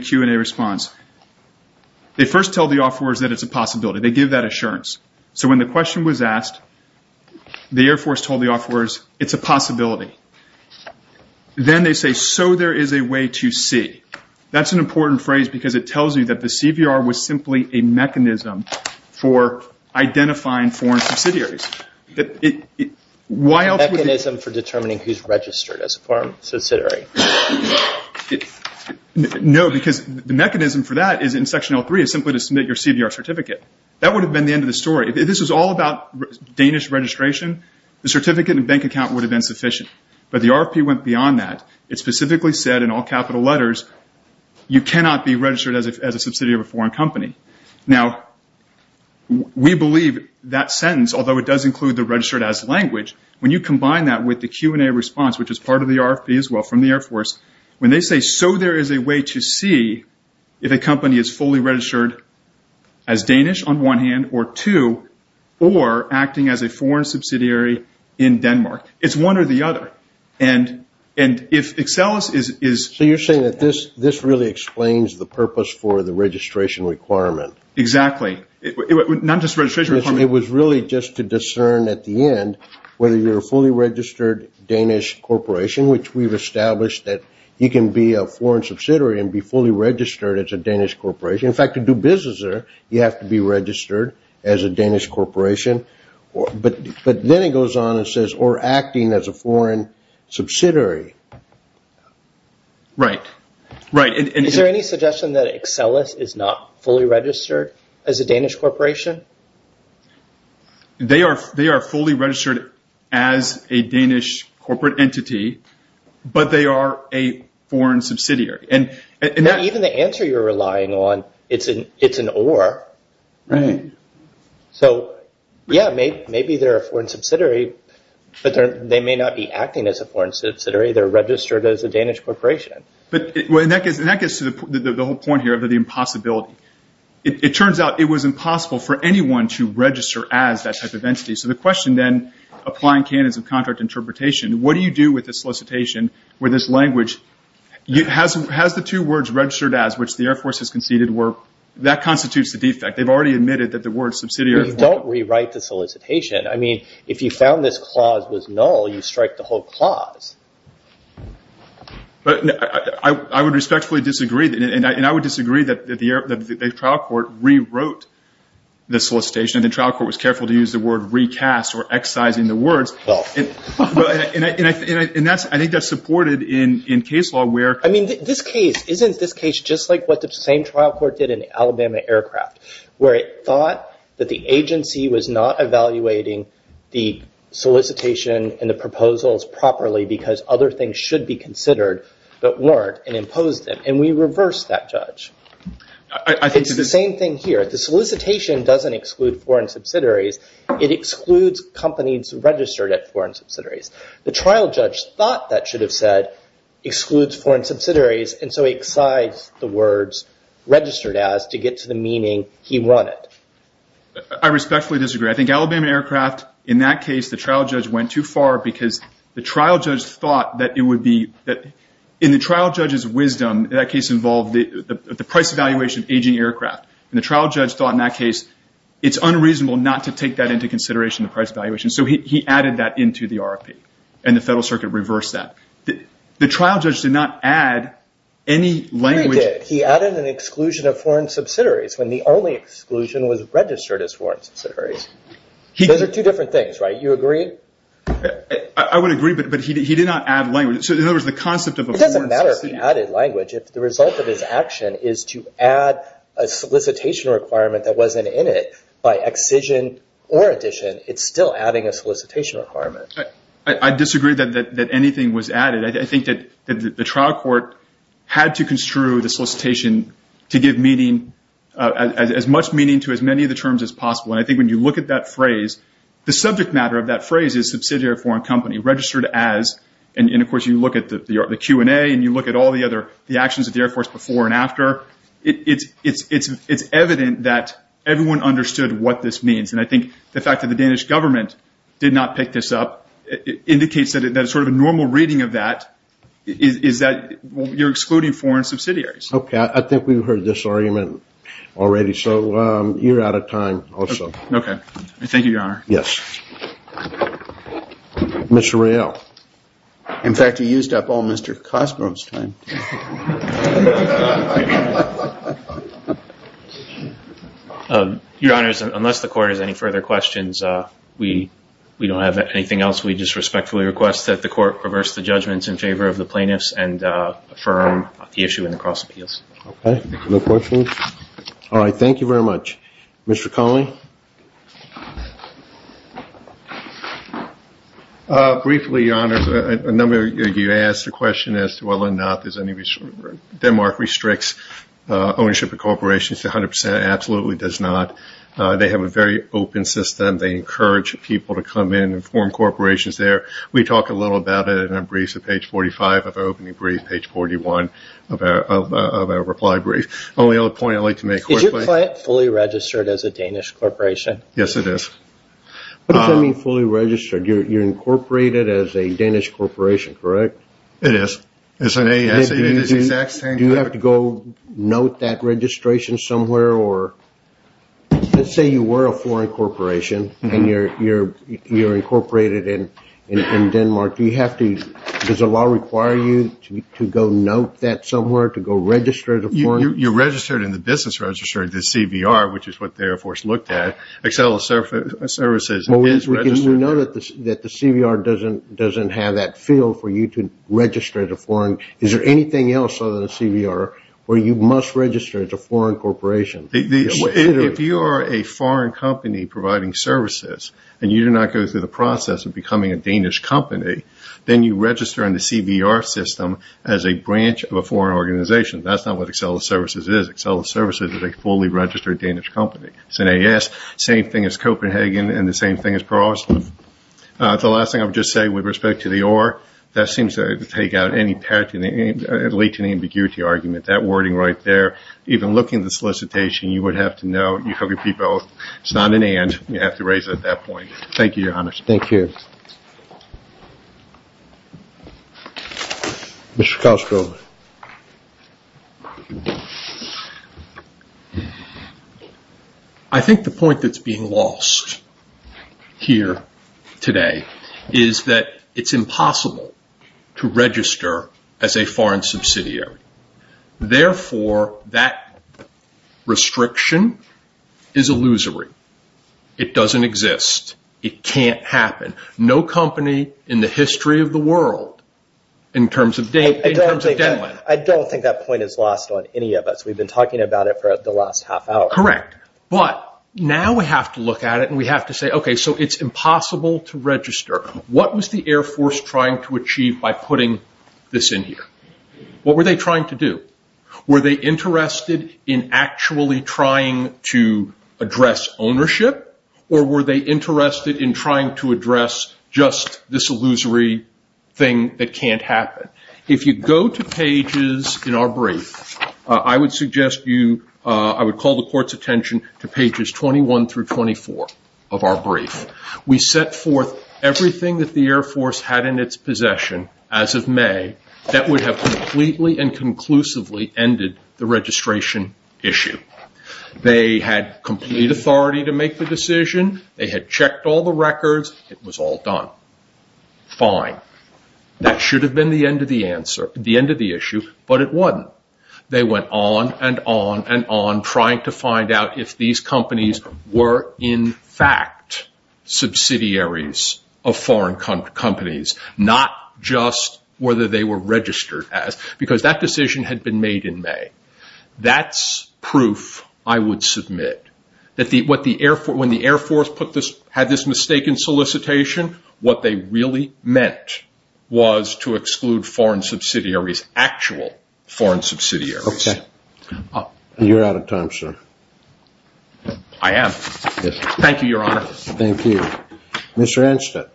Q&A response. They first tell the offerors that it's a possibility. They give that assurance. So when the question was asked, the Air Force told the offerors it's a possibility. Then they say, so there is a way to see. That's an important phrase because it tells you that the CVR was simply a mechanism for identifying foreign subsidiaries. Why else would they? A mechanism for determining who's registered as a foreign subsidiary. No, because the mechanism for that is, in Section L3, is simply to submit your CVR certificate. That would have been the end of the story. If this was all about Danish registration, the certificate and bank account would have been sufficient. But the RFP went beyond that. It specifically said in all capital letters, you cannot be registered as a subsidiary of a foreign company. Now, we believe that sentence, although it does include the registered as language, when you combine that with the Q&A response, which is part of the RFP as well from the Air Force, when they say, so there is a way to see if a company is fully registered as Danish on one hand or two, or acting as a foreign subsidiary in Denmark. It's one or the other. And if Excellus is – So you're saying that this really explains the purpose for the registration requirement. Exactly. Not just registration requirement. It was really just to discern at the end whether you're a fully registered Danish corporation, which we've established that you can be a foreign subsidiary and be fully registered as a Danish corporation. In fact, to do business there, you have to be registered as a Danish corporation. But then it goes on and says, or acting as a foreign subsidiary. Right. Right. Is there any suggestion that Excellus is not fully registered as a Danish corporation? They are fully registered as a Danish corporate entity, but they are a foreign subsidiary. Even the answer you're relying on, it's an or. Right. So, yeah, maybe they're a foreign subsidiary, but they may not be acting as a foreign subsidiary. They're registered as a Danish corporation. And that gets to the whole point here of the impossibility. It turns out it was impossible for anyone to register as that type of entity. So the question then, applying canons of contract interpretation, what do you do with the solicitation where this language has the two words registered as, which the Air Force has conceded were, that constitutes the defect. They've already admitted that the word subsidiary. You don't rewrite the solicitation. I mean, if you found this clause was null, you strike the whole clause. But I would respectfully disagree. And I would disagree that the trial court rewrote the solicitation. The trial court was careful to use the word recast or excising the words. And I think that's supported in case law where. I mean, this case, isn't this case just like what the same trial court did in Alabama Aircraft, where it thought that the agency was not evaluating the solicitation and the proposals properly because other things should be considered but weren't and imposed them. And we reversed that judge. It's the same thing here. The solicitation doesn't exclude foreign subsidiaries. It excludes companies registered at foreign subsidiaries. The trial judge thought that should have said excludes foreign subsidiaries. And so he excised the words registered as to get to the meaning he wanted. I respectfully disagree. I think Alabama Aircraft, in that case, the trial judge went too far because the trial judge thought that it would be. In the trial judge's wisdom, that case involved the price evaluation of aging aircraft. And the trial judge thought in that case it's unreasonable not to take that into consideration, the price evaluation. So he added that into the RFP. And the Federal Circuit reversed that. The trial judge did not add any language. He did. He added an exclusion of foreign subsidiaries when the only exclusion was registered as foreign subsidiaries. Those are two different things, right? You agree? I would agree, but he did not add language. So in other words, the concept of a foreign subsidiary. It doesn't matter if he added language. If the result of his action is to add a solicitation requirement that wasn't in it by excision or addition, it's still adding a solicitation requirement. I disagree that anything was added. I think that the trial court had to construe the solicitation to give meaning, as much meaning to as many of the terms as possible. And I think when you look at that phrase, the subject matter of that phrase is subsidiary or foreign company registered as. And, of course, you look at the Q&A and you look at all the actions of the Air Force before and after. It's evident that everyone understood what this means. And I think the fact that the Danish government did not pick this up indicates that it's sort of a normal reading of that. You're excluding foreign subsidiaries. Okay. I think we've heard this argument already. So you're out of time also. Okay. Thank you, Your Honor. Yes. Mr. Reale. In fact, he used up all Mr. Cosgrove's time. Your Honors, unless the court has any further questions, we don't have anything else. We just respectfully request that the court reverse the judgments in favor of the plaintiffs and affirm the issue in the cross appeals. Okay. No questions? All right. Thank you very much. Mr. Conley. Briefly, Your Honors, a number of you asked the question as to whether or not Denmark restricts ownership of corporations. It absolutely does not. They have a very open system. They encourage people to come in and form corporations there. We talk a little about it in our briefs at page 45 of our opening brief, page 41 of our reply brief. The only other point I'd like to make quickly. Is your client fully registered as a Danish corporation? Yes, it is. What does that mean, fully registered? You're incorporated as a Danish corporation, correct? It is. It's an ASA. Do you have to go note that registration somewhere? Let's say you were a foreign corporation and you're incorporated in Denmark. Does the law require you to go note that somewhere, to go register as a foreign? You're registered in the business registry, the CVR, which is what the Air Force looked at. Accel Services is registered. We know that the CVR doesn't have that field for you to register as a foreign. Is there anything else other than a CVR where you must register as a foreign corporation? If you are a foreign company providing services and you do not go through the process of becoming a Danish company, then you register in the CVR system as a branch of a foreign organization. That's not what Accel Services is. Accel Services is a fully registered Danish company. It's an AS. Same thing as Copenhagen and the same thing as Paris. The last thing I would just say, with respect to the or, that seems to take out any patent and lead to an ambiguity argument. That wording right there, even looking at the solicitation, you would have to note you could be both. It's not an and. You have to raise it at that point. Thank you, Your Honour. Thank you. Mr. Castro. I think the point that's being lost here today is that it's impossible to register as a foreign subsidiary. Therefore, that restriction is illusory. It doesn't exist. It can't happen. No company in the history of the world, in terms of Denmark. I don't think that point is lost on any of us. We've been talking about it for the last half hour. Correct. But now we have to look at it and we have to say, okay, so it's impossible to register. What was the Air Force trying to achieve by putting this in here? What were they trying to do? Were they interested in actually trying to address ownership or were they interested in trying to address just this illusory thing that can't happen? If you go to pages in our brief, I would call the court's attention to pages 21 through 24 of our brief. We set forth everything that the Air Force had in its possession as of May that would have completely and conclusively ended the registration issue. They had complete authority to make the decision. They had checked all the records. It was all done. Fine. That should have been the end of the issue, but it wasn't. They went on and on and on trying to find out if these companies were in fact subsidiaries of foreign companies, not just whether they were registered as, because that decision had been made in May. That's proof, I would submit, that when the Air Force had this mistaken solicitation, what they really meant was to exclude foreign subsidiaries, actual foreign subsidiaries. Okay. You're out of time, sir. I am? Yes. Thank you, Your Honor. Thank you. Mr. Anstett.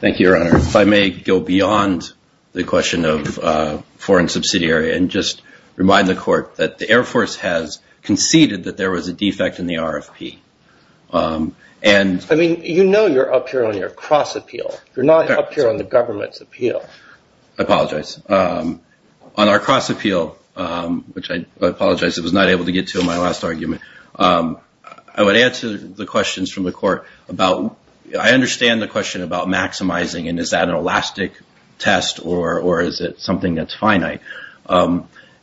Thank you, Your Honor. If I may go beyond the question of foreign subsidiary and just remind the court that the Air Force has conceded that there was a defect in the RFP. I mean, you know you're up here on your cross appeal. You're not up here on the government's appeal. I apologize. On our cross appeal, which I apologize I was not able to get to in my last argument, I would answer the questions from the court about, I understand the question about maximizing and is that an elastic test or is it something that's finite?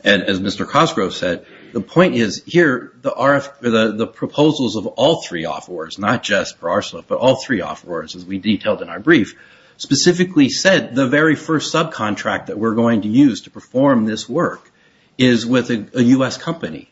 And as Mr. Cosgrove said, the point is here the RFP, the proposals of all three offerors, but all three offerors as we detailed in our brief, specifically said the very first subcontract that we're going to use to perform this work is with a U.S. company.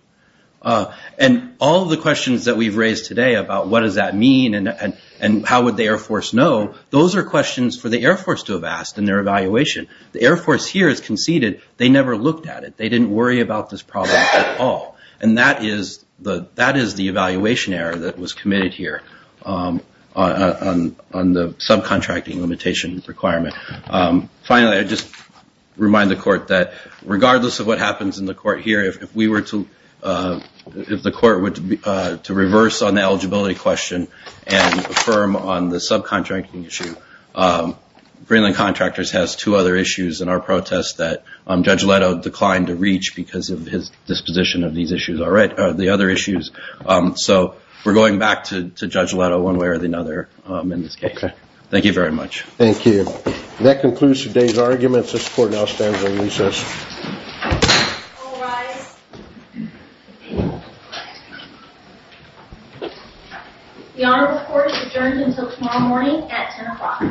And all the questions that we've raised today about what does that mean and how would the Air Force know, those are questions for the Air Force to have asked in their evaluation. The Air Force here has conceded they never looked at it. They didn't worry about this problem at all. And that is the evaluation error that was committed here on the subcontracting limitation requirement. Finally, I just remind the court that regardless of what happens in the court here, if the court were to reverse on the eligibility question and affirm on the subcontracting issue, Greenland Contractors has two other issues in our protest that Judge Leto declined to reach because of his disposition of these issues, the other issues. So we're going back to Judge Leto one way or another in this case. Thank you very much. Thank you. That concludes today's arguments. This court now stands on recess. All rise. The Honorable Court is adjourned until tomorrow morning at 10 o'clock.